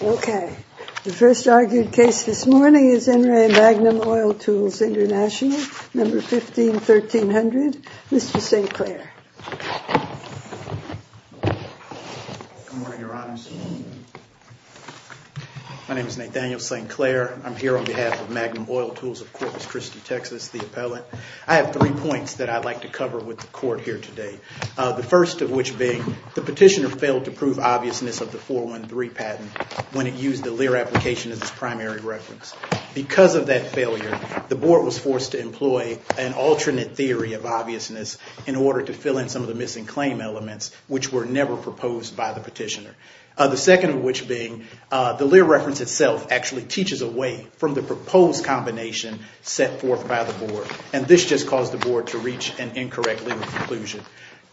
Okay, the first argued case this morning is En Re Magnum Oil Tools International, number 15-1300. Mr. St. Clair. Good morning, Your Honors. My name is Nathaniel St. Clair. I'm here on behalf of Magnum Oil Tools of Corpus Christi, Texas, the appellant. I have three points that I'd like to cover. The first of which being the petitioner failed to prove obviousness of the 413 patent when it used the Lear application as its primary reference. Because of that failure, the board was forced to employ an alternate theory of obviousness in order to fill in some of the missing claim elements, which were never proposed by the petitioner. The second of which being the Lear reference itself actually teaches away from the proposed combination set forth by the board, and this just caused the board to reach an incorrect Lear conclusion.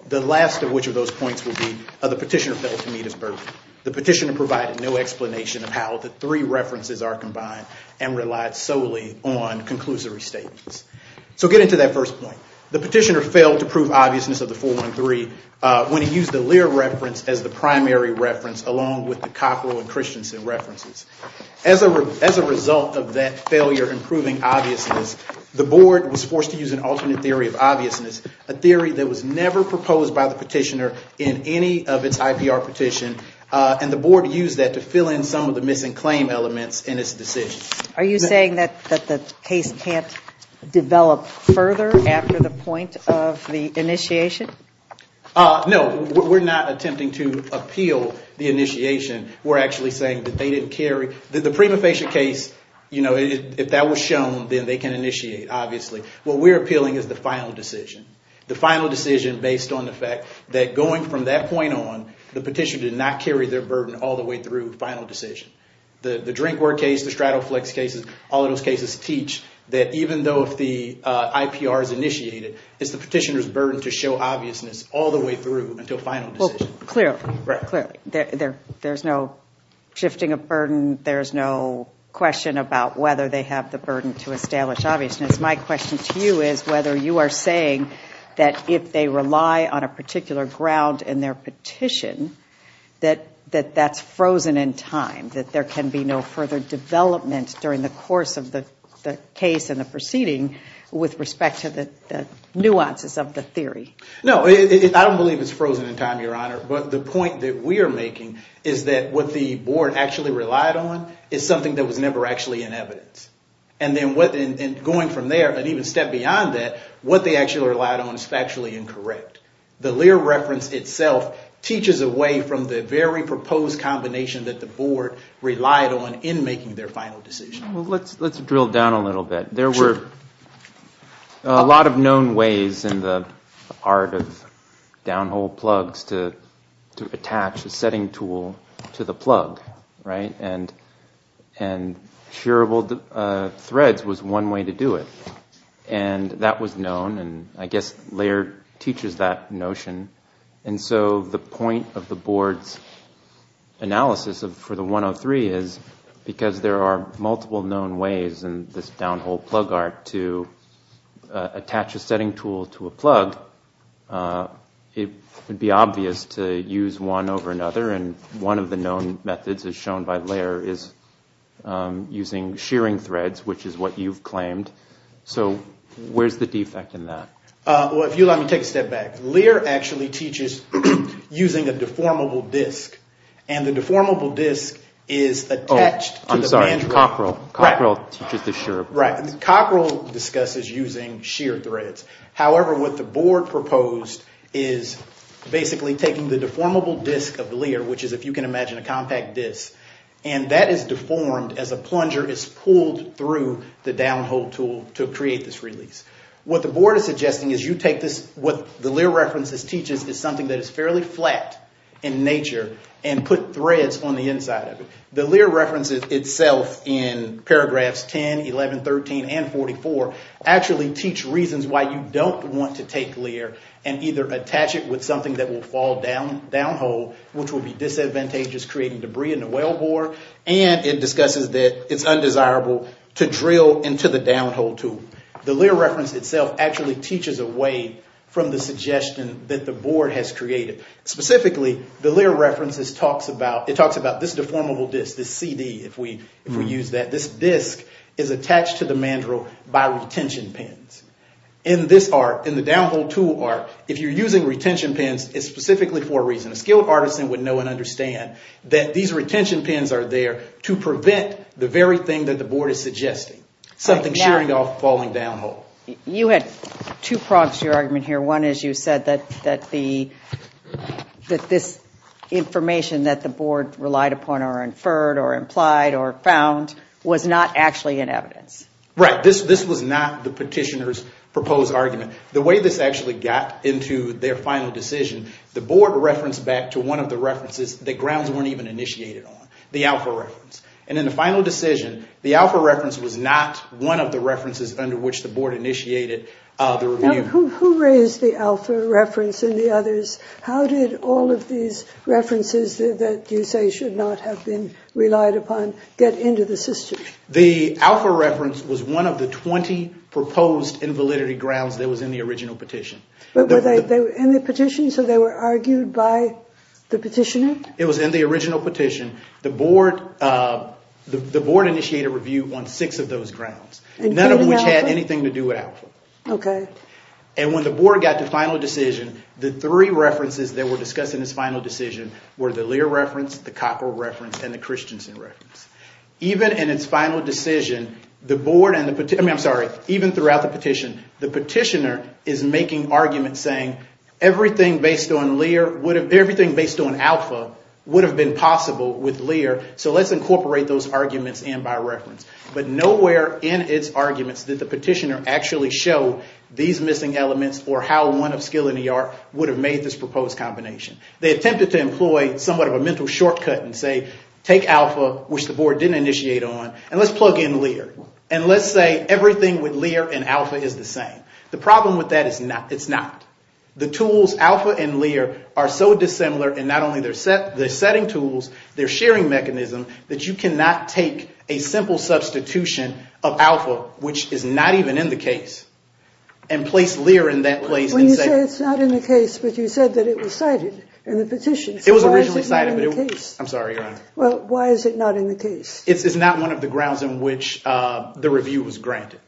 The last of which of those points would be the petitioner failed to meet his burden. The petitioner provided no explanation of how the three references are combined and relied solely on conclusory statements. So get into that first point. The petitioner failed to prove obviousness of the 413 when he used the Lear reference as the primary reference along with the Cockrell and Christensen references. As a result of that failure in proving obviousness, the board was forced to use an alternate theory of obviousness, a theory that was never proposed by the petitioner in any of its IPR petition, and the board used that to fill in some of the missing claim elements in its decision. Are you saying that the case can't develop further after the point of the initiation? No. We're not attempting to appeal the initiation. We're actually saying that they didn't carry – the prima facie case, you know, if that was shown, then they can initiate, obviously. What we're appealing is the final decision, the final decision based on the fact that going from that point on, the petitioner did not carry their burden all the way through the final decision. The Drinkware case, the Stratoflex cases, all of those cases teach that even though the IPR is initiated, it's the petitioner's burden to show obviousness all the way through until final decision. Well, clearly. Clearly. There's no shifting of burden. There's no question about whether they have the burden to establish obviousness. My question to you is whether you are saying that if they rely on a particular ground in their petition, that that's frozen in time, that there can be no further development during the course of the case and the proceeding with respect to the nuances of the theory. No. I don't believe it's frozen in time, Your Honor, but the point that we are making is that what the board actually relied on is something that was never actually in evidence. And going from there and even step beyond that, what they actually relied on is factually incorrect. The Lear reference itself teaches away from the very proposed combination that the board relied on in making their final decision. Let's drill down a little bit. Sure. A lot of known ways in the art of downhole plugs to attach a setting tool to the plug, right? And shearable threads was one way to do it. And that was known. And I guess Lear teaches that notion. And so the point of the board's analysis for the 103 is because there are multiple known ways in this downhole plug art to attach a setting tool to a plug, it would be obvious to use one over another. And one of the known methods, as shown by Lear, is using shearing threads, which is what you've claimed. So where's the defect in that? Well, if you let me take a step back. Lear actually teaches using a deformable disk. And the deformable disk is attached to the mandrel. Oh, I'm sorry. Cockrell. Cockrell teaches the shearable threads. Right. Cockrell discusses using shear threads. However, what the board proposed is basically taking the deformable disk of Lear, which is, if you can imagine, a compact disk, and that is deformed as a plunger is pulled through the downhole tool to create this release. What the board is suggesting is you take this, what the Lear reference teaches is something that is fairly flat in nature, and put threads on the inside of it. The Lear reference itself in paragraphs 10, 11, 13, and 44 actually teach reasons why you don't want to take Lear and either attach it with something that will fall downhole, which will be disadvantageous creating debris in the well bore, and it discusses that it's undesirable to drill into the downhole tool. The Lear reference itself actually teaches a way from the suggestion that the board has created. Specifically, the Lear reference talks about this deformable disk, this CD, if we use that. This disk is attached to the mandrel by retention pins. In this art, in the downhole tool art, if you're using retention pins, it's specifically for a reason. A skilled artisan would know and understand that these retention pins are there to prevent the very thing that the board is suggesting, something shearing off, falling downhole. You had two prongs to your argument here. One is you said that this information that the board relied upon or inferred or implied or found was not actually in evidence. Right. This was not the petitioner's proposed argument. The way this actually got into their final decision, the board referenced back to one of the references that grounds weren't even initiated on, the alpha reference. In the final decision, the alpha reference was not one of the references under which the board initiated the review. Who raised the alpha reference and the others? How did all of these references that you say should not have been relied upon get into the system? The alpha reference was one of the 20 proposed invalidity grounds that was in the original petition. Were they in the petition so they were argued by the petitioner? It was in the original petition. The board initiated a review on six of those grounds, none of which had anything to do with alpha. Okay. And when the board got to final decision, the three references that were discussed in this final decision were the Lear reference, the Cockrell reference, and the Christensen reference. Even in its final decision, the board and the petitioner, I'm sorry, even throughout the petition, the petitioner is making arguments saying everything based on alpha would have been possible with Lear, so let's incorporate those arguments in by reference. But nowhere in its arguments did the petitioner actually show these missing elements or how one of skill and the art would have made this proposed combination. They attempted to employ somewhat of a mental shortcut and say take alpha, which the board didn't initiate on, and let's plug in Lear. And let's say everything with Lear and alpha is the same. The problem with that is it's not. The tools, alpha and Lear, are so dissimilar in not only their setting tools, their sharing mechanism, that you cannot take a simple substitution of alpha, which is not even in the case, and place Lear in that place. When you say it's not in the case, but you said that it was cited in the petition. It was originally cited. I'm sorry, Your Honor. Well, why is it not in the case? It's not one of the grounds in which the review was granted.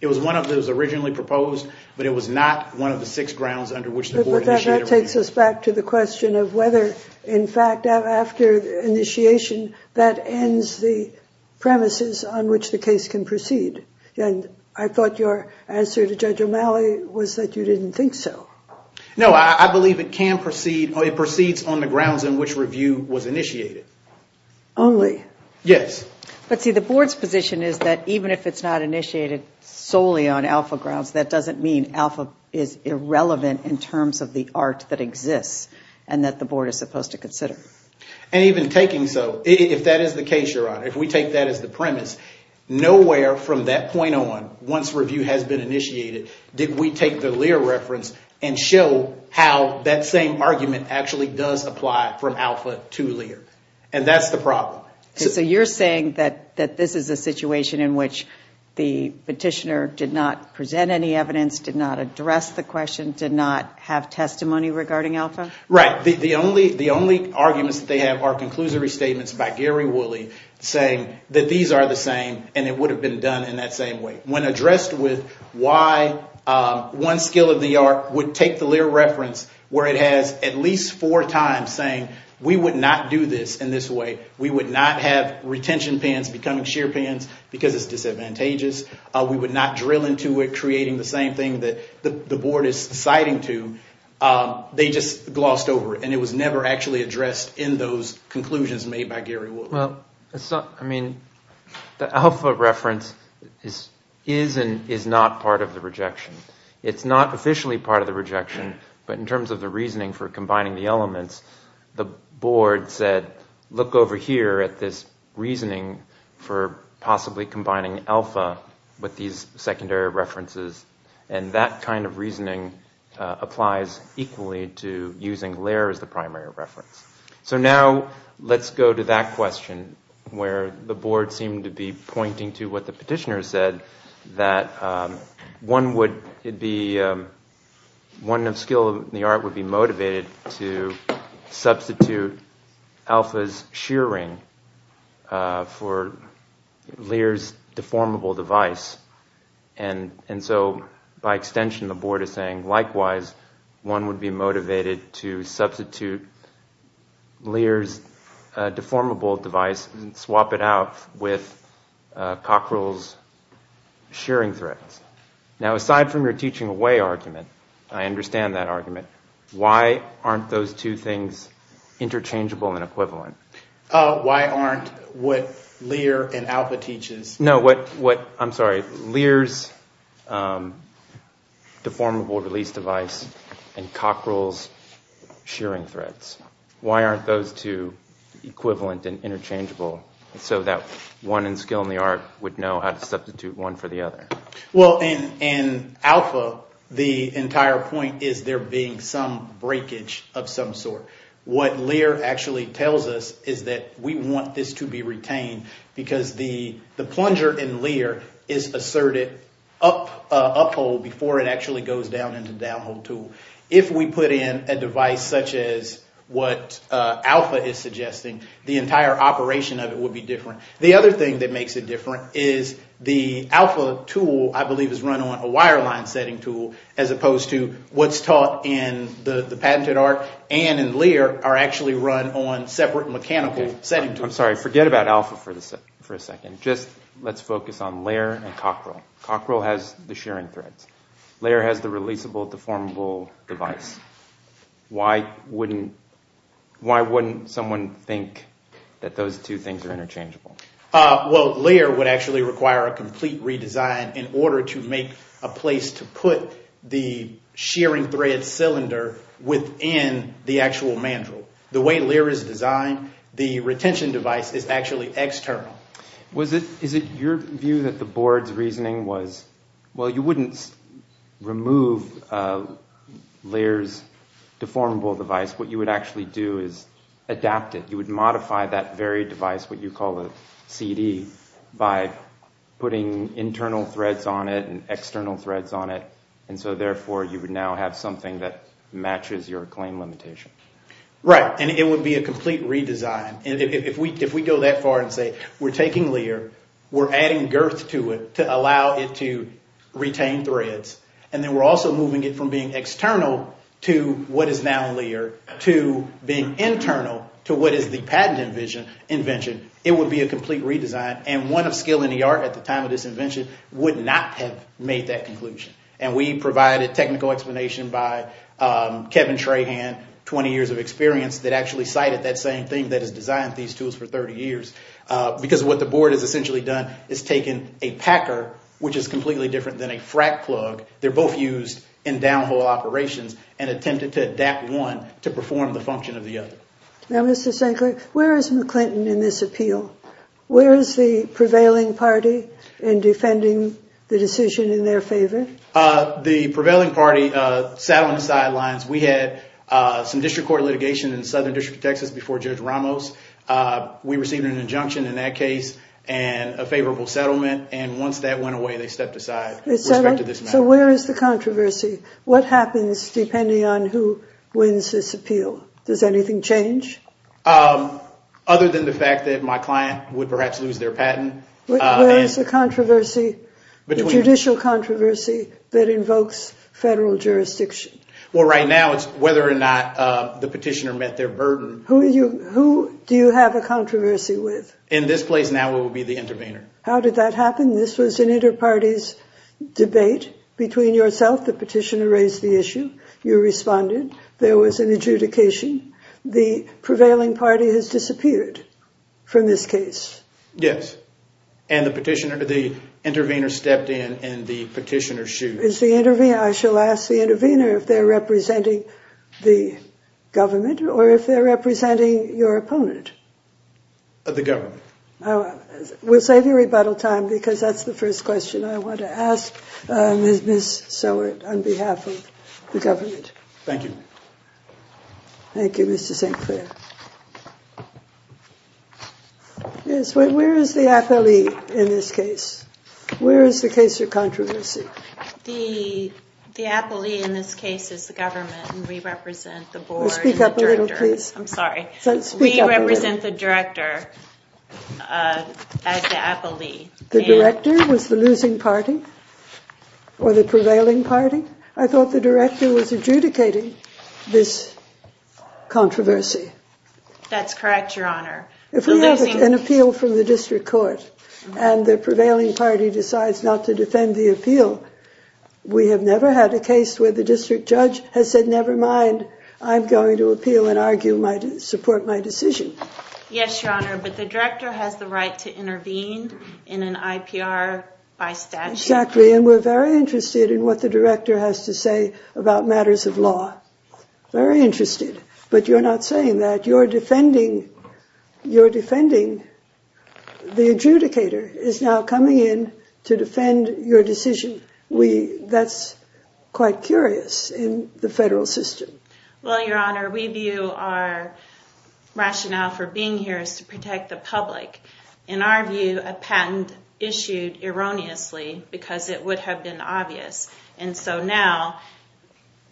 It was one of those originally proposed, but it was not one of the six grounds under which the board initiated. But that takes us back to the question of whether, in fact, after initiation that ends the premises on which the case can proceed. And I thought your answer to Judge O'Malley was that you didn't think so. No, I believe it can proceed. It proceeds on the grounds in which review was initiated. Only? Yes. But see, the board's position is that even if it's not initiated solely on alpha grounds, that doesn't mean alpha is irrelevant in terms of the art that exists and that the board is supposed to consider. And even taking so, if that is the case, Your Honor, if we take that as the premise, nowhere from that point on, once review has been initiated, did we take the Lear reference and show how that same argument actually does apply from alpha to Lear. And that's the problem. So you're saying that this is a situation in which the petitioner did not present any evidence, did not address the question, did not have testimony regarding alpha? Right. The only arguments that they have are conclusory statements by Gary Woolley saying that these are the same and it would have been done in that same way. When addressed with why one skill of the art would take the Lear reference, where it has at least four times saying we would not do this in this way, we would not have retention pans becoming sheer pans because it's disadvantageous, we would not drill into it creating the same thing that the board is citing to, they just glossed over it. And it was never actually addressed in those conclusions made by Gary Woolley. Well, I mean, the alpha reference is and is not part of the rejection. It's not officially part of the rejection, but in terms of the reasoning for combining the elements, the board said look over here at this reasoning for possibly combining alpha with these secondary references and that kind of reasoning applies equally to using Lear as the primary reference. So now let's go to that question where the board seemed to be pointing to what the petitioner said that one skill of the art would be motivated to substitute alpha's sheer ring for Lear's deformable device. And so by extension the board is saying likewise one would be motivated to substitute Lear's deformable device and swap it out with Cockrell's sheering threads. Now aside from your teaching away argument, I understand that argument. Why aren't those two things interchangeable and equivalent? Why aren't what Lear and alpha teaches? No, what, I'm sorry, Lear's deformable release device and Cockrell's sheering threads. Why aren't those two equivalent and interchangeable so that one in skill in the art would know how to substitute one for the other? Well, in alpha the entire point is there being some breakage of some sort. What Lear actually tells us is that we want this to be retained because the plunger in Lear is asserted up hold before it actually goes down into down hold tool. If we put in a device such as what alpha is suggesting, the entire operation of it would be different. The other thing that makes it different is the alpha tool I believe is run on a wire line setting tool as opposed to what's taught in the patented art. Anne and Lear are actually run on separate mechanical setting tools. I'm sorry, forget about alpha for a second. Just let's focus on Lear and Cockrell. Cockrell has the sheering threads. Lear has the releasable deformable device. Why wouldn't someone think that those two things are interchangeable? Well, Lear would actually require a complete redesign in order to make a place to put the sheering thread cylinder within the actual mandrel. The way Lear is designed, the retention device is actually external. Is it your view that the board's reasoning was, well, you wouldn't remove Lear's deformable device. What you would actually do is adapt it. You would modify that very device, what you call a CD, by putting internal threads on it and external threads on it. Therefore, you would now have something that matches your claim limitation. Right, and it would be a complete redesign. If we go that far and say we're taking Lear, we're adding girth to it to allow it to retain threads, and then we're also moving it from being external to what is now Lear to being internal to what is the patent invention, it would be a complete redesign, and one of skill in the art at the time of this invention would not have made that conclusion. And we provided technical explanation by Kevin Trahan, 20 years of experience, that actually cited that same thing that has designed these tools for 30 years, because what the board has essentially done is taken a packer, which is completely different than a frack plug. They're both used in downhole operations and attempted to adapt one to perform the function of the other. Now, Mr. Stankley, where is McClinton in this appeal? Where is the prevailing party in defending the decision in their favor? The prevailing party sat on the sidelines. We had some district court litigation in the southern district of Texas before Judge Ramos. We received an injunction in that case and a favorable settlement, and once that went away, they stepped aside. So where is the controversy? What happens depending on who wins this appeal? Does anything change? Other than the fact that my client would perhaps lose their patent. Where is the controversy, the judicial controversy, that invokes federal jurisdiction? Well, right now it's whether or not the petitioner met their burden. Who do you have a controversy with? In this place now it would be the intervener. How did that happen? This was an inter-parties debate between yourself, the petitioner raised the issue, you responded, there was an adjudication. The prevailing party has disappeared from this case. Yes, and the petitioner, the intervener stepped in and the petitioner sued. I shall ask the intervener if they're representing the government or if they're representing your opponent. The government. We'll save you rebuttal time because that's the first question I want to ask Ms. Seward on behalf of the government. Thank you. Thank you, Mr. St. Clair. Yes, where is the appellee in this case? Where is the case of controversy? The appellee in this case is the government and we represent the board. Speak up a little, please. I'm sorry. Speak up a little. We represent the director as the appellee. The director was the losing party or the prevailing party? I thought the director was adjudicating this controversy. That's correct, Your Honor. If we have an appeal from the district court and the prevailing party decides not to defend the appeal, we have never had a case where the district judge has said, never mind, I'm going to appeal and support my decision. Yes, Your Honor, but the director has the right to intervene in an IPR by statute. Exactly, and we're very interested in what the director has to say about matters of law. Very interested, but you're not saying that. You're defending the adjudicator is now coming in to defend your decision. That's quite curious in the federal system. Well, Your Honor, we view our rationale for being here is to protect the public. In our view, a patent issued erroneously because it would have been obvious, and so now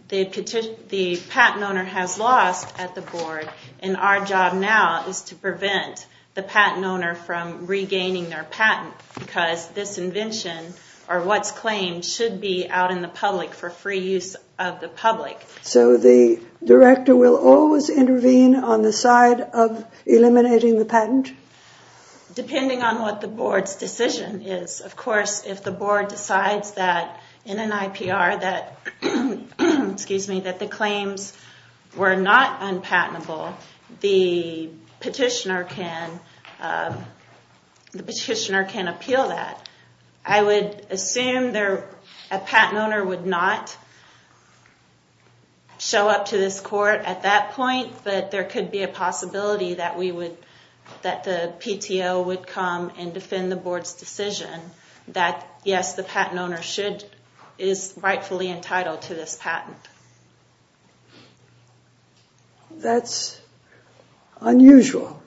the patent owner has lost at the board, and our job now is to prevent the patent owner from regaining their patent because this invention or what's claimed should be out in the public for free use of the public. So the director will always intervene on the side of eliminating the patent? Depending on what the board's decision is. Of course, if the board decides that in an IPR that the claims were not unpatentable, the petitioner can appeal that. I would assume a patent owner would not show up to this court at that point, but there could be a possibility that the PTO would come and defend the board's decision that yes, the patent owner is rightfully entitled to this patent. That's unusual.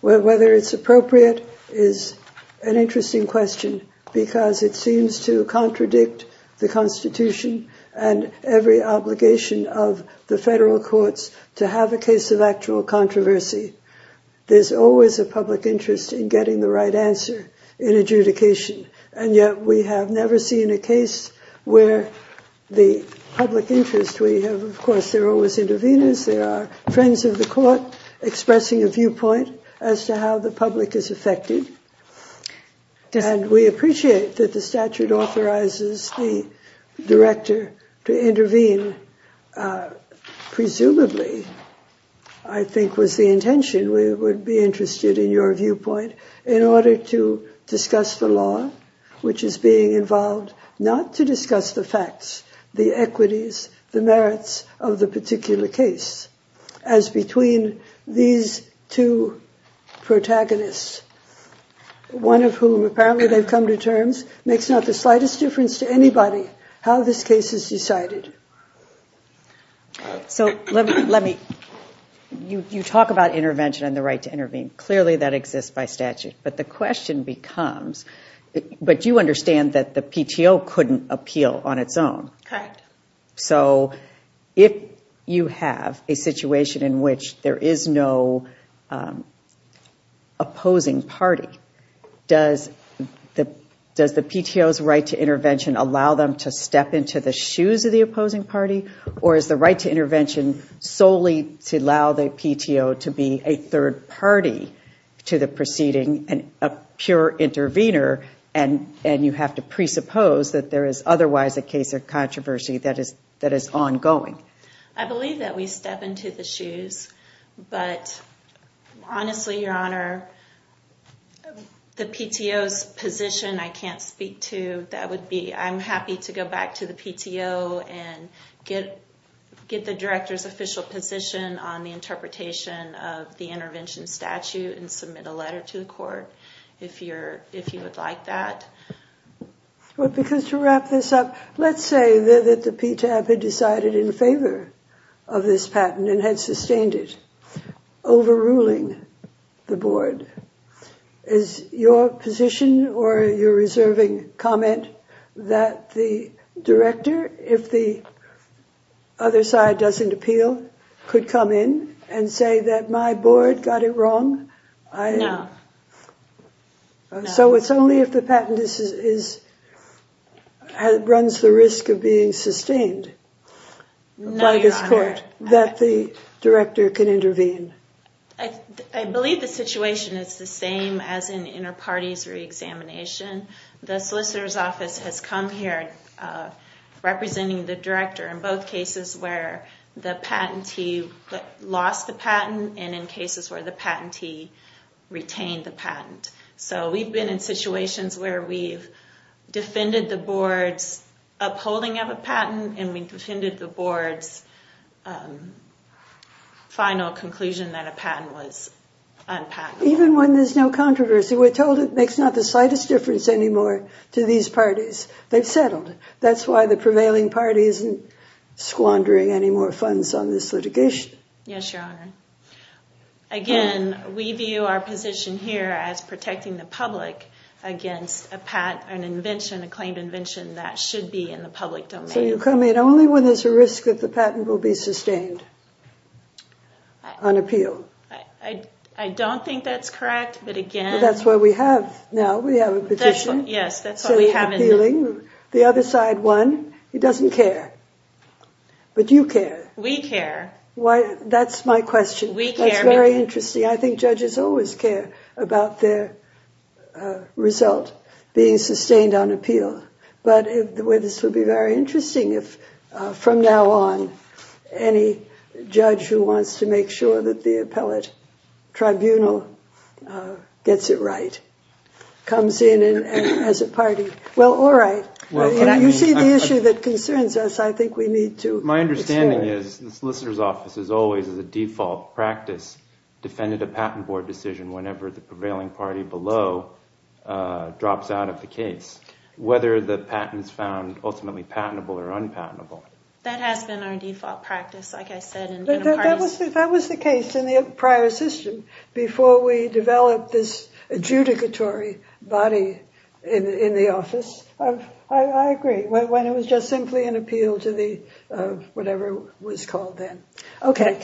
Whether it's appropriate is an interesting question because it seems to contradict the Constitution and every obligation of the federal courts to have a case of actual controversy. There's always a public interest in getting the right answer in adjudication, and yet we have never seen a case where the public interest we have, and of course, there are always interveners. There are friends of the court expressing a viewpoint as to how the public is affected, and we appreciate that the statute authorizes the director to intervene. Presumably, I think was the intention, we would be interested in your viewpoint in order to discuss the law, which is being involved, not to discuss the facts, the equities, the merits of the particular case as between these two protagonists, one of whom apparently they've come to terms, makes not the slightest difference to anybody how this case is decided. You talk about intervention and the right to intervene. Clearly, that exists by statute, but the question becomes, but you understand that the PTO couldn't appeal on its own. Correct. So if you have a situation in which there is no opposing party, does the PTO's right to intervention allow them to step into the shoes of the opposing party, or is the right to intervention solely to allow the PTO to be a third party to the proceeding and a pure intervener, and you have to presuppose that there is otherwise a case of controversy that is ongoing? I believe that we step into the shoes, but honestly, Your Honor, the PTO's position I can't speak to. I'm happy to go back to the PTO and get the director's official position on the interpretation of the intervention statute and submit a letter to the court if you would like that. Well, because to wrap this up, let's say that the PTAB had decided in favor of this patent and had sustained it, overruling the board. Is your position or your reserving comment that the director, if the other side doesn't appeal, could come in and say that my board got it wrong? No. So it's only if the patent runs the risk of being sustained by this court that the director can intervene? I believe the situation is the same as in inter-parties re-examination. The solicitor's office has come here representing the director in both cases where the patentee lost the patent and in cases where the patentee retained the patent. So we've been in situations where we've defended the board's upholding of a patent and we've defended the board's final conclusion that a patent was unpatentable. Even when there's no controversy, we're told it makes not the slightest difference anymore to these parties. They've settled. That's why the prevailing party isn't squandering any more funds on this litigation. Yes, Your Honor. Again, we view our position here as protecting the public against a claimed invention that should be in the public domain. So you'll come in only when there's a risk that the patent will be sustained on appeal? I don't think that's correct, but again— That's what we have now. We have a petition. Yes, that's what we have. The other side won. It doesn't care. But you care. We care. That's my question. We care. That's very interesting. I think judges always care about their result being sustained on appeal. But this would be very interesting if from now on any judge who wants to make sure that the appellate tribunal gets it right comes in as a party. Well, all right. You see the issue that concerns us. I think we need to— My understanding is the solicitor's office has always, as a default practice, defended a patent board decision whenever the prevailing party below drops out of the case, whether the patent is found ultimately patentable or unpatentable. That has been our default practice, like I said, That was the case in the prior system before we developed this adjudicatory body in the office. I agree. When it was just simply an appeal to the whatever was called then. Okay.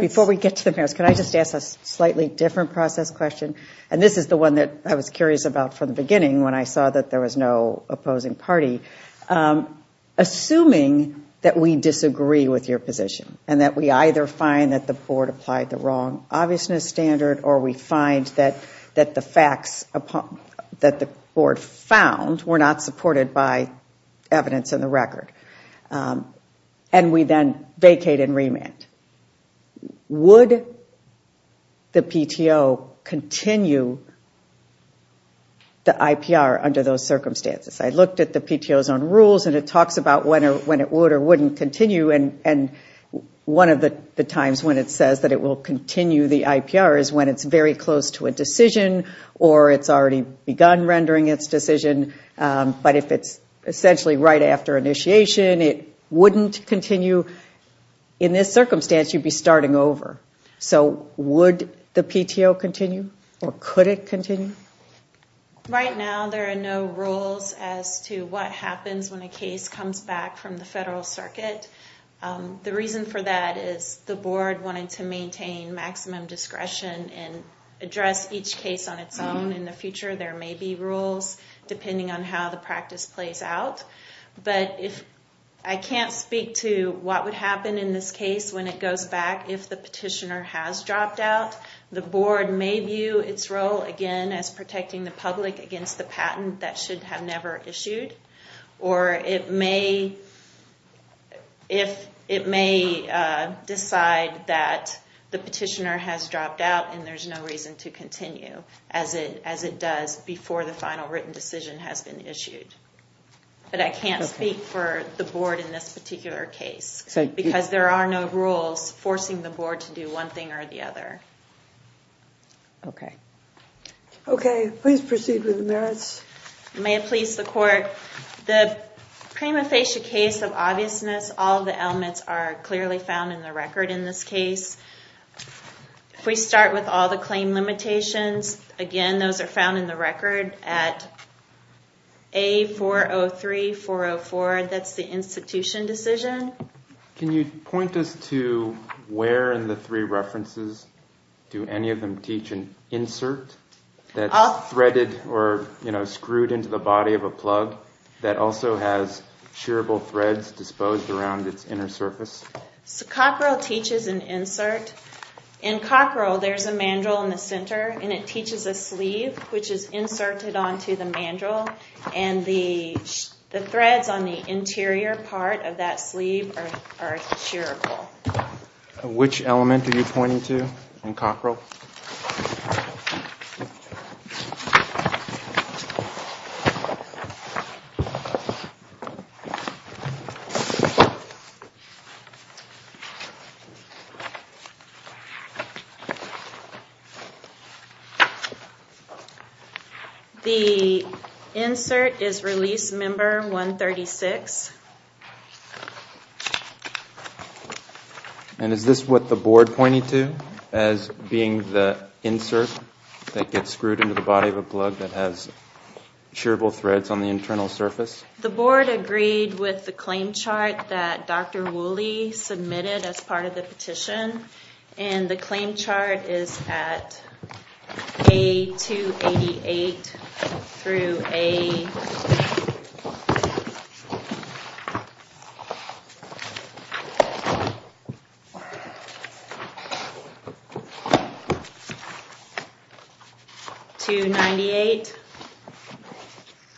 Before we get to the merits, can I just ask a slightly different process question? And this is the one that I was curious about from the beginning when I saw that there was no opposing party. Assuming that we disagree with your position and that we either find that the board applied the wrong obviousness standard or we find that the facts that the board found were not supported by evidence in the record and we then vacate and remand, would the PTO continue the IPR under those circumstances? I looked at the PTO's own rules and it talks about when it would or wouldn't continue. And one of the times when it says that it will continue the IPR is when it's very close to a decision or it's already begun rendering its decision. But if it's essentially right after initiation, it wouldn't continue. In this circumstance, you'd be starting over. So would the PTO continue or could it continue? Right now, there are no rules as to what happens when a case comes back from the federal circuit. The reason for that is the board wanted to maintain maximum discretion and address each case on its own. In the future, there may be rules depending on how the practice plays out. But I can't speak to what would happen in this case when it goes back if the petitioner has dropped out. The board may view its role again as protecting the public against the patent that should have never issued. Or it may decide that the petitioner has dropped out and there's no reason to continue as it does before the final written decision has been issued. But I can't speak for the board in this particular case. Because there are no rules forcing the board to do one thing or the other. Okay. Okay, please proceed with the merits. May it please the court. The prima facie case of obviousness, all the elements are clearly found in the record in this case. If we start with all the claim limitations, again, those are found in the record at A403-404. That's the institution decision. Can you point us to where in the three references do any of them teach an insert that's threaded or screwed into the body of a plug that also has shearable threads disposed around its inner surface? Cockrell teaches an insert. In Cockrell, there's a mandrel in the center and it teaches a sleeve which is inserted onto the mandrel. And the threads on the interior part of that sleeve are shearable. Which element are you pointing to in Cockrell? The insert is release member 136. And is this what the board pointed to as being the insert that gets screwed into the body of a plug that has shearable threads on the internal surface? The board agreed with the claim chart that Dr. Woolley submitted as part of the petition. And the claim chart is at A288-A298.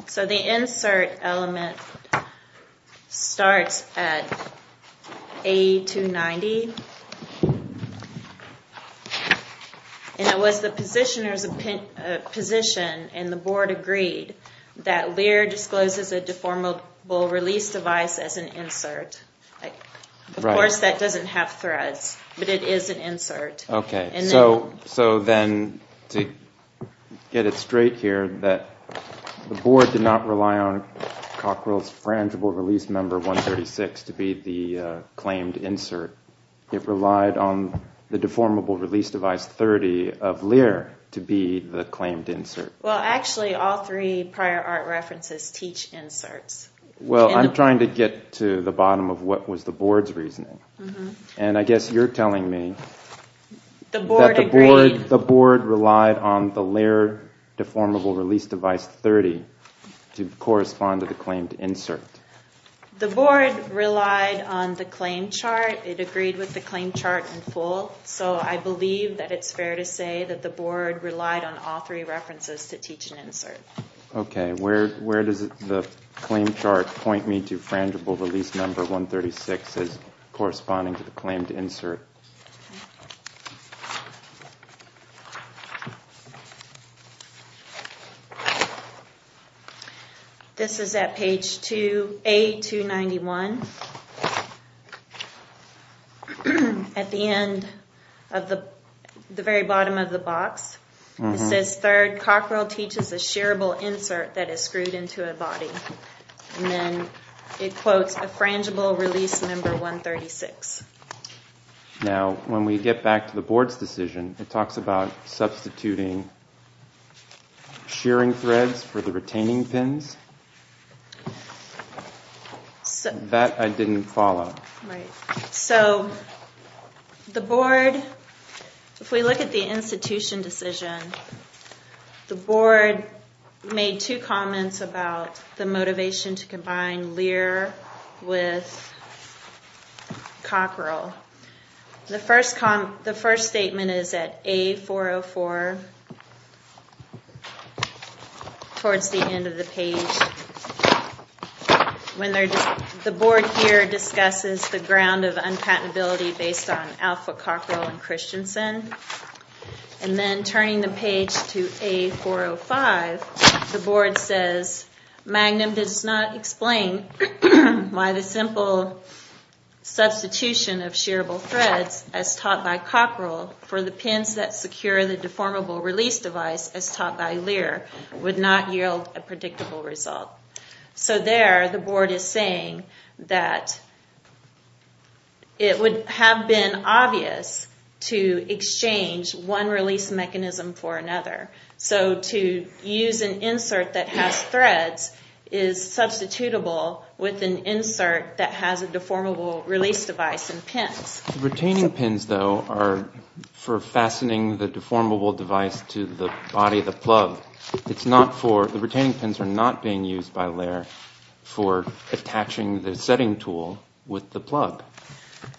So the insert element starts at A290. And it was the positioner's position, and the board agreed, that Lear discloses a deformable release device as an insert. Of course that doesn't have threads, but it is an insert. So then, to get it straight here, the board did not rely on Cockrell's frangible release member 136 to be the claimed insert. It relied on the deformable release device 30 of Lear to be the claimed insert. Well, actually, all three prior art references teach inserts. Well, I'm trying to get to the bottom of what was the board's reasoning. And I guess you're telling me that the board relied on the Lear deformable release device 30 to correspond to the claimed insert. The board relied on the claim chart. It agreed with the claim chart in full. So I believe that it's fair to say that the board relied on all three references to teach an insert. Okay, where does the claim chart point me to frangible release number 136 as corresponding to the claimed insert? This is at page 2, A291. At the end of the, the very bottom of the box. It says, third, Cockrell teaches a shearable insert that is screwed into a body. And then it quotes a frangible release number 136. Now, when we get back to the board's decision, it talks about substituting shearing threads for the retaining pins. That I didn't follow. So, the board, if we look at the institution decision, the board made two comments about the motivation to combine Lear with Cockrell. The first statement is at A404, towards the end of the page. The board here discusses the ground of unpatentability based on Alpha, Cockrell, and Christensen. And then turning the page to A405, the board says, Magnum does not explain why the simple substitution of shearable threads, as taught by Cockrell, for the pins that secure the deformable release device, as taught by Lear, would not yield a predictable result. So there, the board is saying that it would have been obvious to exchange one release mechanism for another. So to use an insert that has threads is substitutable with an insert The retaining pins, though, are for fastening the deformable device to the body of the plug. The retaining pins are not being used by Lear for attaching the setting tool with the plug.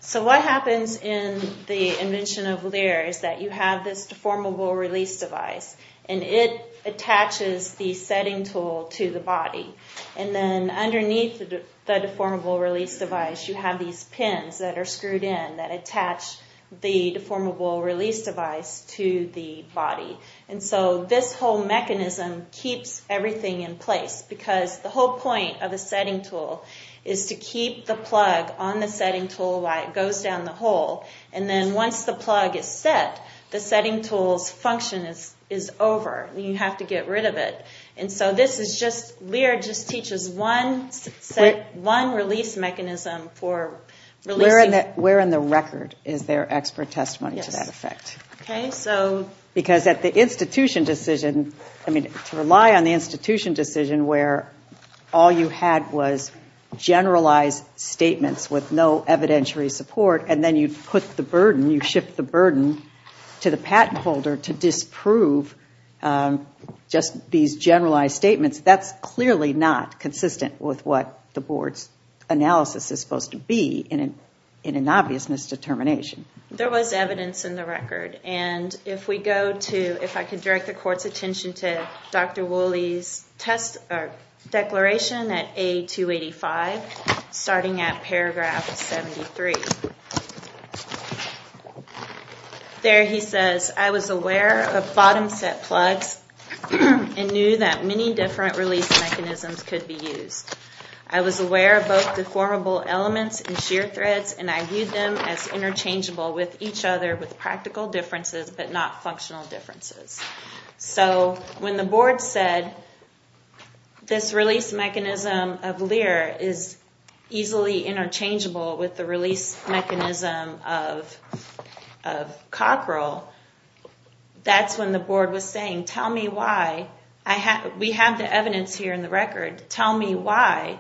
So what happens in the invention of Lear is that you have this deformable release device, and it attaches the setting tool to the body. And then underneath the deformable release device you have these pins that are screwed in that attach the deformable release device to the body. And so this whole mechanism keeps everything in place because the whole point of the setting tool is to keep the plug on the setting tool while it goes down the hole. And then once the plug is set, the setting tool's function is over. You have to get rid of it. Lear just teaches one release mechanism for releasing... Where in the record is there expert testimony to that effect? Because at the institution decision, to rely on the institution decision where all you had was generalized statements with no evidentiary support, and then you shift the burden to the patent holder to disprove just these generalized statements, that's clearly not consistent with what the board's analysis is supposed to be in an obvious misdetermination. There was evidence in the record. And if we go to... If I could direct the court's attention to Dr. Woolley's declaration at A285, starting at paragraph 73. There he says, I was aware of bottom-set plugs and knew that many different release mechanisms could be used. I was aware of both deformable elements and shear threads, and I viewed them as interchangeable with each other, with practical differences but not functional differences. So when the board said this release mechanism of Lear is easily interchangeable with the release mechanism of Cockrell, that's when the board was saying, tell me why. We have the evidence here in the record. Tell me why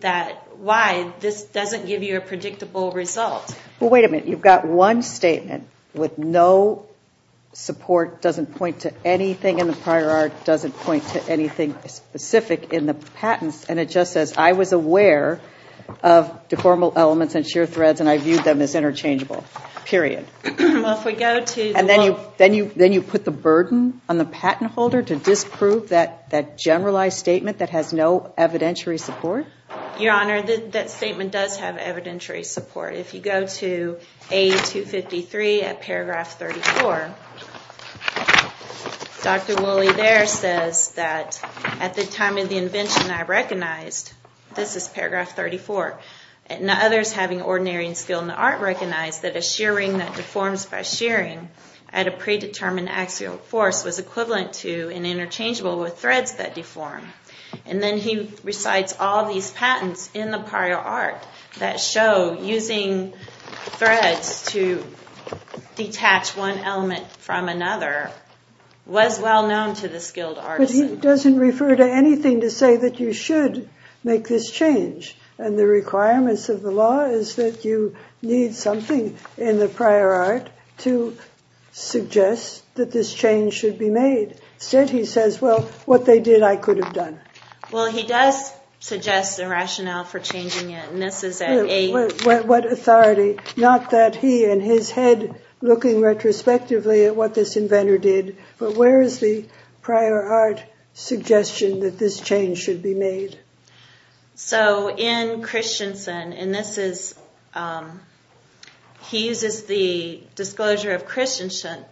this doesn't give you a predictable result. Well, wait a minute. You've got one statement with no support, doesn't point to anything in the prior art, doesn't point to anything specific in the patents, and it just says, I was aware of deformable elements and shear threads, and I viewed them as interchangeable, period. Well, if we go to... Your Honor, that statement does have evidentiary support. If you go to A253 at paragraph 34, Dr. Woolley there says that, at the time of the invention, I recognized, this is paragraph 34, others having ordinary skill in the art recognized that a shear ring that deforms by shearing at a predetermined axial force was equivalent to and interchangeable with threads that deform. And then he recites all these patents in the prior art that show using threads to detach one element from another was well known to the skilled artisan. But he doesn't refer to anything to say that you should make this change, and the requirements of the law is that you need something in the prior art to suggest that this change should be made. Instead he says, well, what they did I could have done. Well, he does suggest a rationale for changing it, and this is at A... What authority? Not that he, in his head, looking retrospectively at what this inventor did, but where is the prior art suggestion that this change should be made? So, in Christensen, and this is... He uses the disclosure of Christensen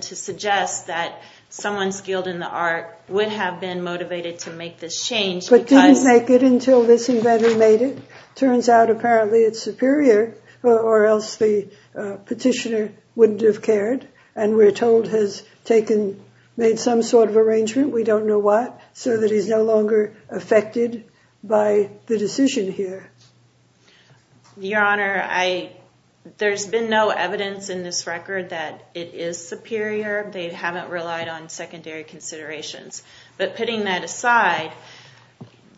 to suggest that someone skilled in the art would have been motivated to make this change because... But didn't make it until this inventor made it. Turns out, apparently, it's superior, or else the petitioner wouldn't have cared, and we're told has made some sort of arrangement, we don't know what, so that he's no longer affected by the decision here. Your Honor, I... There's been no evidence in this record that it is superior. They haven't relied on secondary considerations. But putting that aside,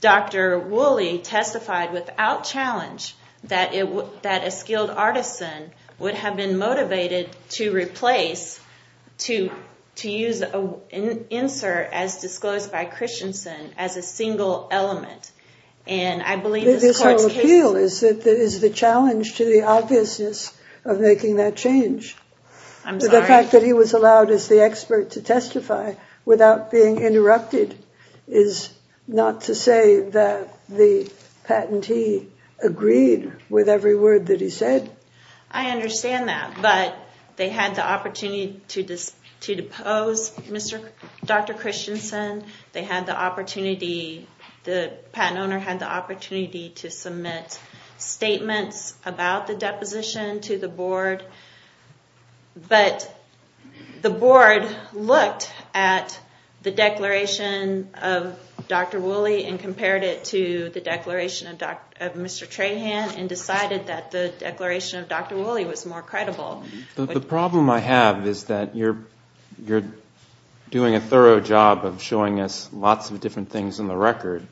Dr. Woolley testified without challenge that a skilled artisan would have been motivated to replace, to use an insert as disclosed by Christensen as a single element, and I believe this court's case... But his whole appeal is the challenge to the obviousness of making that change. I'm sorry? The fact that he was allowed as the expert to testify without being interrupted is not to say that the patentee agreed with every word that he said. I understand that, but they had the opportunity to depose Dr. Christensen, they had the opportunity, the patent owner had the opportunity to submit statements about the deposition to the board, but the board looked at the declaration of Dr. Woolley and compared it to the declaration of Mr. Trahan and decided that the declaration of Dr. Woolley was more credible. The problem I have is that you're doing a thorough job of showing us lots of different things in the record,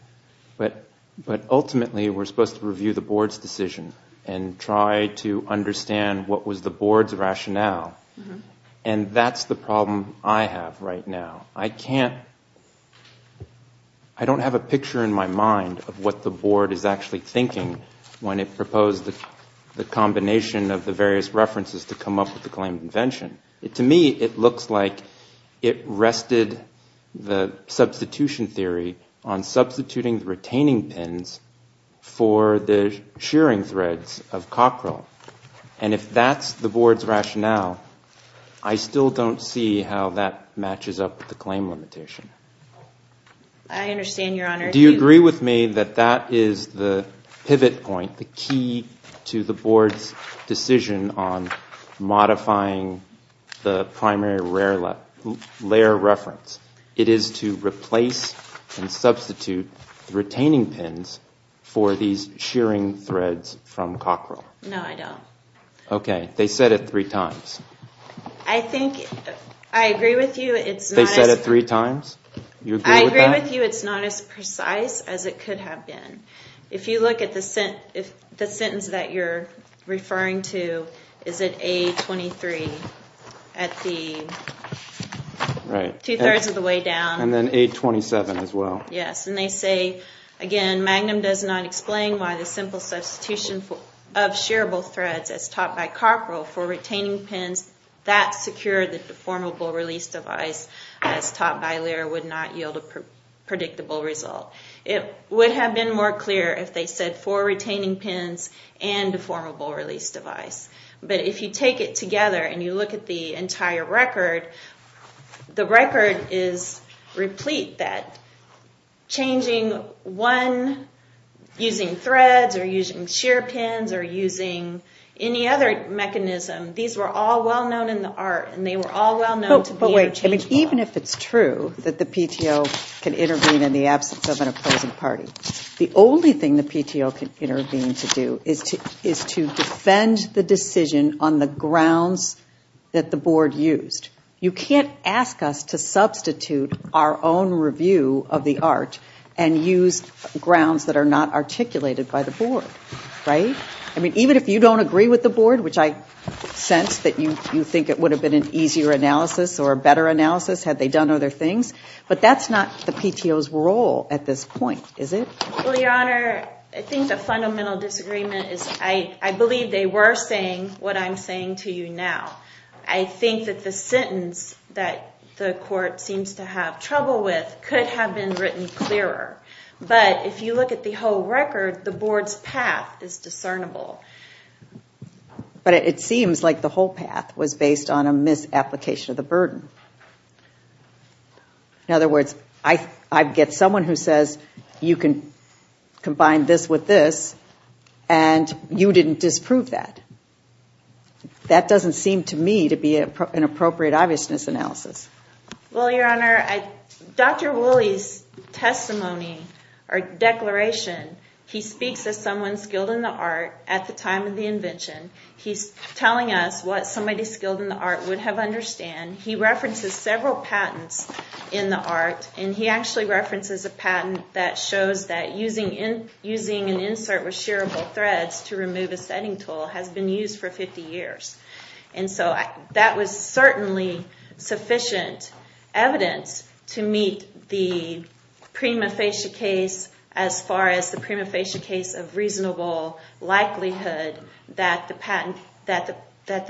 but ultimately we're supposed to review the board's decision and try to understand what was the board's rationale, and that's the problem I have right now. I can't... When it proposed the combination of the various references to come up with the claim of invention, to me it looks like it rested the substitution theory on substituting the retaining pins for the shearing threads of Cockrell, and if that's the board's rationale, I still don't see how that matches up with the claim limitation. I understand, Your Honor. Do you agree with me that that is the pivot point, the key to the board's decision on modifying the primary layer reference? It is to replace and substitute retaining pins for these shearing threads from Cockrell? No, I don't. Okay. They said it three times. I think I agree with you. They said it three times? I agree with you. It's not as precise as it could have been. If you look at the sentence that you're referring to, is it A23 at the two-thirds of the way down? And then A27 as well. Yes, and they say, again, Magnum does not explain why the simple substitution of shearable threads as taught by Cockrell for retaining pins that secure the deformable release device as taught by Lear would not yield a predictable result. It would have been more clear if they said four retaining pins and a deformable release device. But if you take it together and you look at the entire record, the record is replete that changing one using threads or using shear pins or using any other mechanism, these were all well known in the art, and they were all well known to be interchangeable. But wait, even if it's true that the PTO can intervene in the absence of an opposing party, the only thing the PTO can intervene to do is to defend the decision on the grounds that the board used. You can't ask us to substitute our own review of the art and use grounds that are not articulated by the board, right? I mean, even if you don't agree with the board, which I sense that you think it would have been an easier analysis or a better analysis had they done other things, but that's not the PTO's role at this point, is it? Well, Your Honor, I think the fundamental disagreement is I believe they were saying what I'm saying to you now. I think that the sentence that the court seems to have trouble with could have been written clearer. But if you look at the whole record, the board's path is discernible. But it seems like the whole path was based on a misapplication of the burden. In other words, I get someone who says you can combine this with this and you didn't disprove that. That doesn't seem to me to be an appropriate obviousness analysis. Well, Your Honor, Dr. Woolley's testimony or declaration, he speaks as someone skilled in the art at the time of the invention. He's telling us what somebody skilled in the art would have understood. He references several patents in the art, and he actually references a patent that shows that using an insert with shearable threads to remove a setting tool has been used for 50 years. That was certainly sufficient evidence to meet the prima facie case as far as the prima facie case of reasonable likelihood that the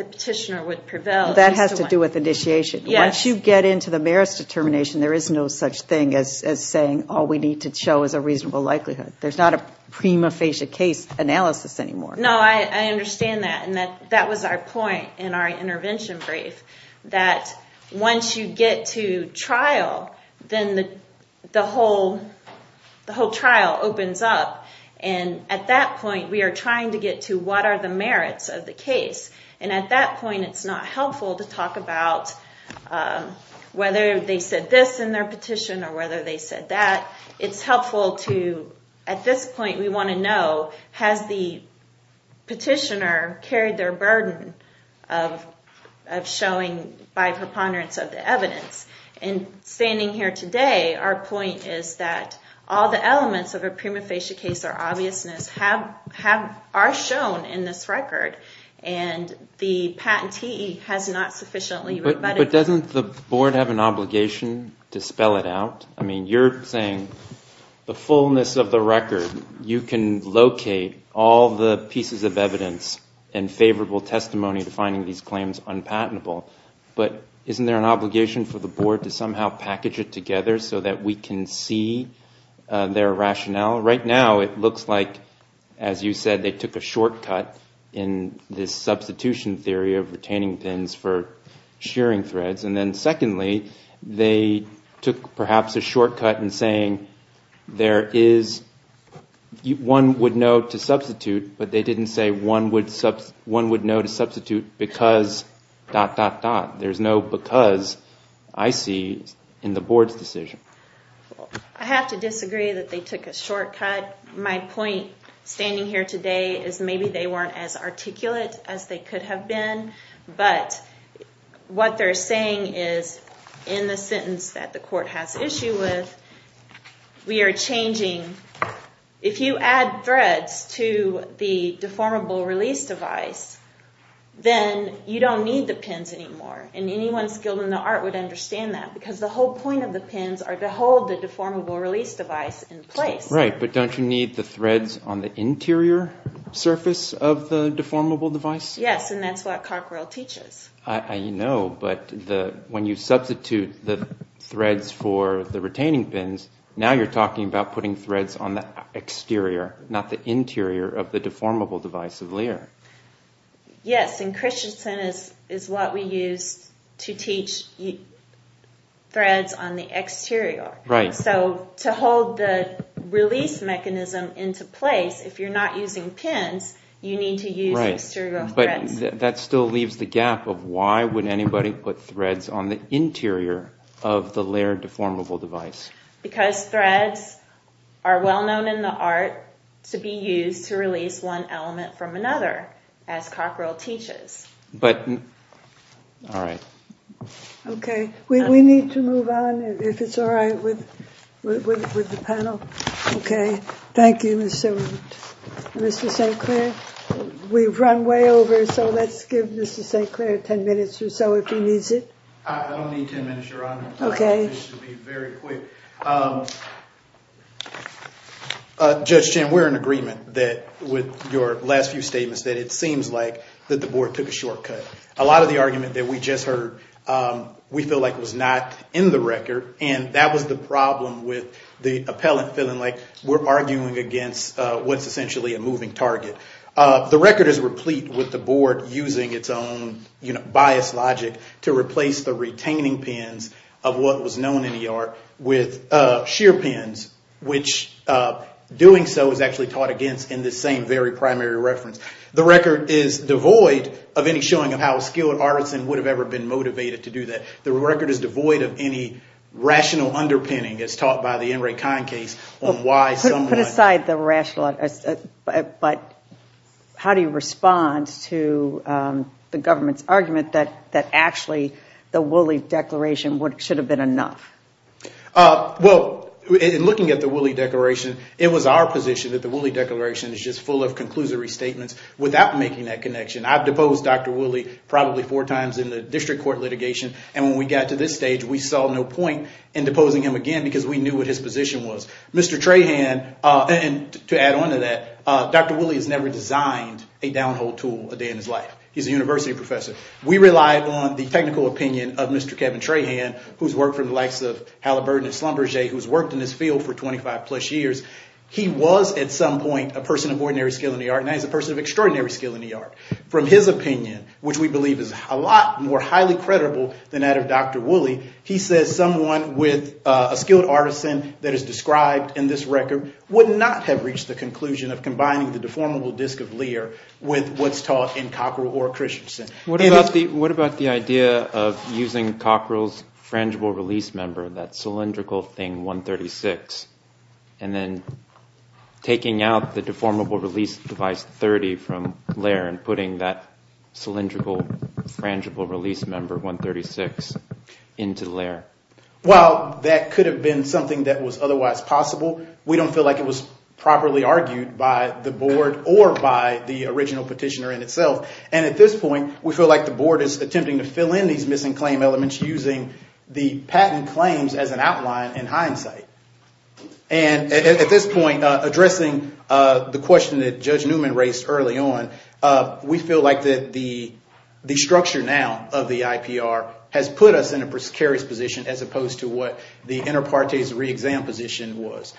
petitioner would prevail. That has to do with initiation. Once you get into the merits determination, there is no such thing as saying all we need to show is a reasonable likelihood. There's not a prima facie case analysis anymore. No, I understand that. That was our point in our intervention brief, that once you get to trial, then the whole trial opens up. At that point, we are trying to get to what are the merits of the case. At that point, it's not helpful to talk about whether they said this in their petition or whether they said that. It's helpful to, at this point, we want to know, has the petitioner carried their burden of showing by preponderance of the evidence. Standing here today, our point is that all the elements of a prima facie case or obviousness are shown in this record, and the patentee has not sufficiently rebutted them. But doesn't the board have an obligation to spell it out? I mean, you're saying the fullness of the record, you can locate all the pieces of evidence and favorable testimony to finding these claims unpatentable. But isn't there an obligation for the board to somehow package it together so that we can see their rationale? Right now, it looks like, as you said, they took a shortcut in this substitution theory of retaining pins for shearing threads. And then secondly, they took perhaps a shortcut in saying, there is one would know to substitute, but they didn't say one would know to substitute because dot, dot, dot. There's no because, I see, in the board's decision. I have to disagree that they took a shortcut. My point, standing here today, is maybe they weren't as articulate as they could have been. But what they're saying is, in the sentence that the court has issue with, we are changing, if you add threads to the deformable release device, then you don't need the pins anymore. And anyone skilled in the art would understand that because the whole point of the pins are to hold the deformable release device in place. Right, but don't you need the threads on the interior surface of the deformable device? Yes, and that's what Cockerell teaches. I know, but when you substitute the threads for the retaining pins, now you're talking about putting threads on the exterior, not the interior, of the deformable device of Lear. Yes, and Christensen is what we use to teach threads on the exterior. Right. So to hold the release mechanism into place, if you're not using pins, you need to use exterior threads. Right, but that still leaves the gap of why would anybody put threads on the interior of the Lear deformable device? Because threads are well known in the art to be used to release one element from another, as Cockerell teaches. But, all right. Okay, we need to move on, if it's all right with the panel. Okay, thank you, Mr. St. Clair. We've run way over, so let's give Mr. St. Clair 10 minutes or so if he needs it. I don't need 10 minutes, Your Honor. Okay. This should be very quick. Judge Chin, we're in agreement with your last few statements that it seems like the board took a shortcut. A lot of the argument that we just heard we feel like was not in the record, and that was the problem with the appellant feeling like we're arguing against what's essentially a moving target. The record is replete with the board using its own biased logic to replace the retaining pins of what was known in the art with sheer pins, which doing so is actually taught against in this same very primary reference. The record is devoid of any showing of how skilled artisans would have ever been motivated to do that. The record is devoid of any rational underpinning, as taught by the Enrique Kahn case on why someone— Put aside the rational, but how do you respond to the government's argument that actually the Woolley Declaration should have been enough? Well, in looking at the Woolley Declaration, it was our position that the Woolley Declaration is just full of conclusory statements without making that connection. I've deposed Dr. Woolley probably four times in the district court litigation, and when we got to this stage, we saw no point in deposing him again because we knew what his position was. Mr. Trahan, and to add on to that, Dr. Woolley has never designed a downhole tool a day in his life. He's a university professor. We rely on the technical opinion of Mr. Kevin Trahan, who's worked for the likes of Halliburton and Schlumberger, who's worked in this field for 25-plus years. He was at some point a person of ordinary skill in the art, and now he's a person of extraordinary skill in the art. From his opinion, which we believe is a lot more highly credible than that of Dr. Woolley, he says someone with a skilled artisan that is described in this record would not have reached the conclusion of combining the deformable disc of Lear with what's taught in Cockerell or Christensen. What about the idea of using Cockerell's frangible release member, that cylindrical thing, 136, and then taking out the deformable release device 30 from Lear and putting that cylindrical frangible release member 136 into Lear? Well, that could have been something that was otherwise possible. We don't feel like it was properly argued by the board or by the original petitioner in itself. And at this point, we feel like the board is attempting to fill in in hindsight. And at this point, addressing the question that Judge Newman raised early on, we feel like the structure now of the IPR has put us in a precarious position as opposed to what the inter partes re-exam position was.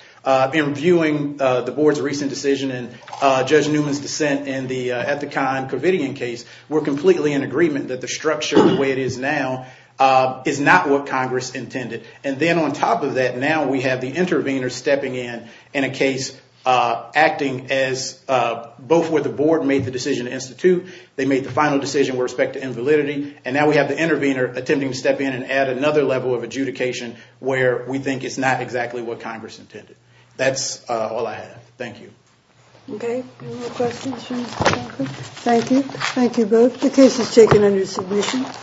In viewing the board's recent decision and Judge Newman's dissent in the Ethicon Corvidian case, we're completely in agreement that the structure the way it is now is not what Congress intended. And then on top of that, now we have the intervener stepping in in a case acting as both where the board made the decision to institute, they made the final decision with respect to invalidity, and now we have the intervener attempting to step in and add another level of adjudication where we think it's not exactly what Congress intended. That's all I have. Thank you. Okay. Any more questions for Mr. Duncan? Thank you. Thank you both. The case is taken under submission.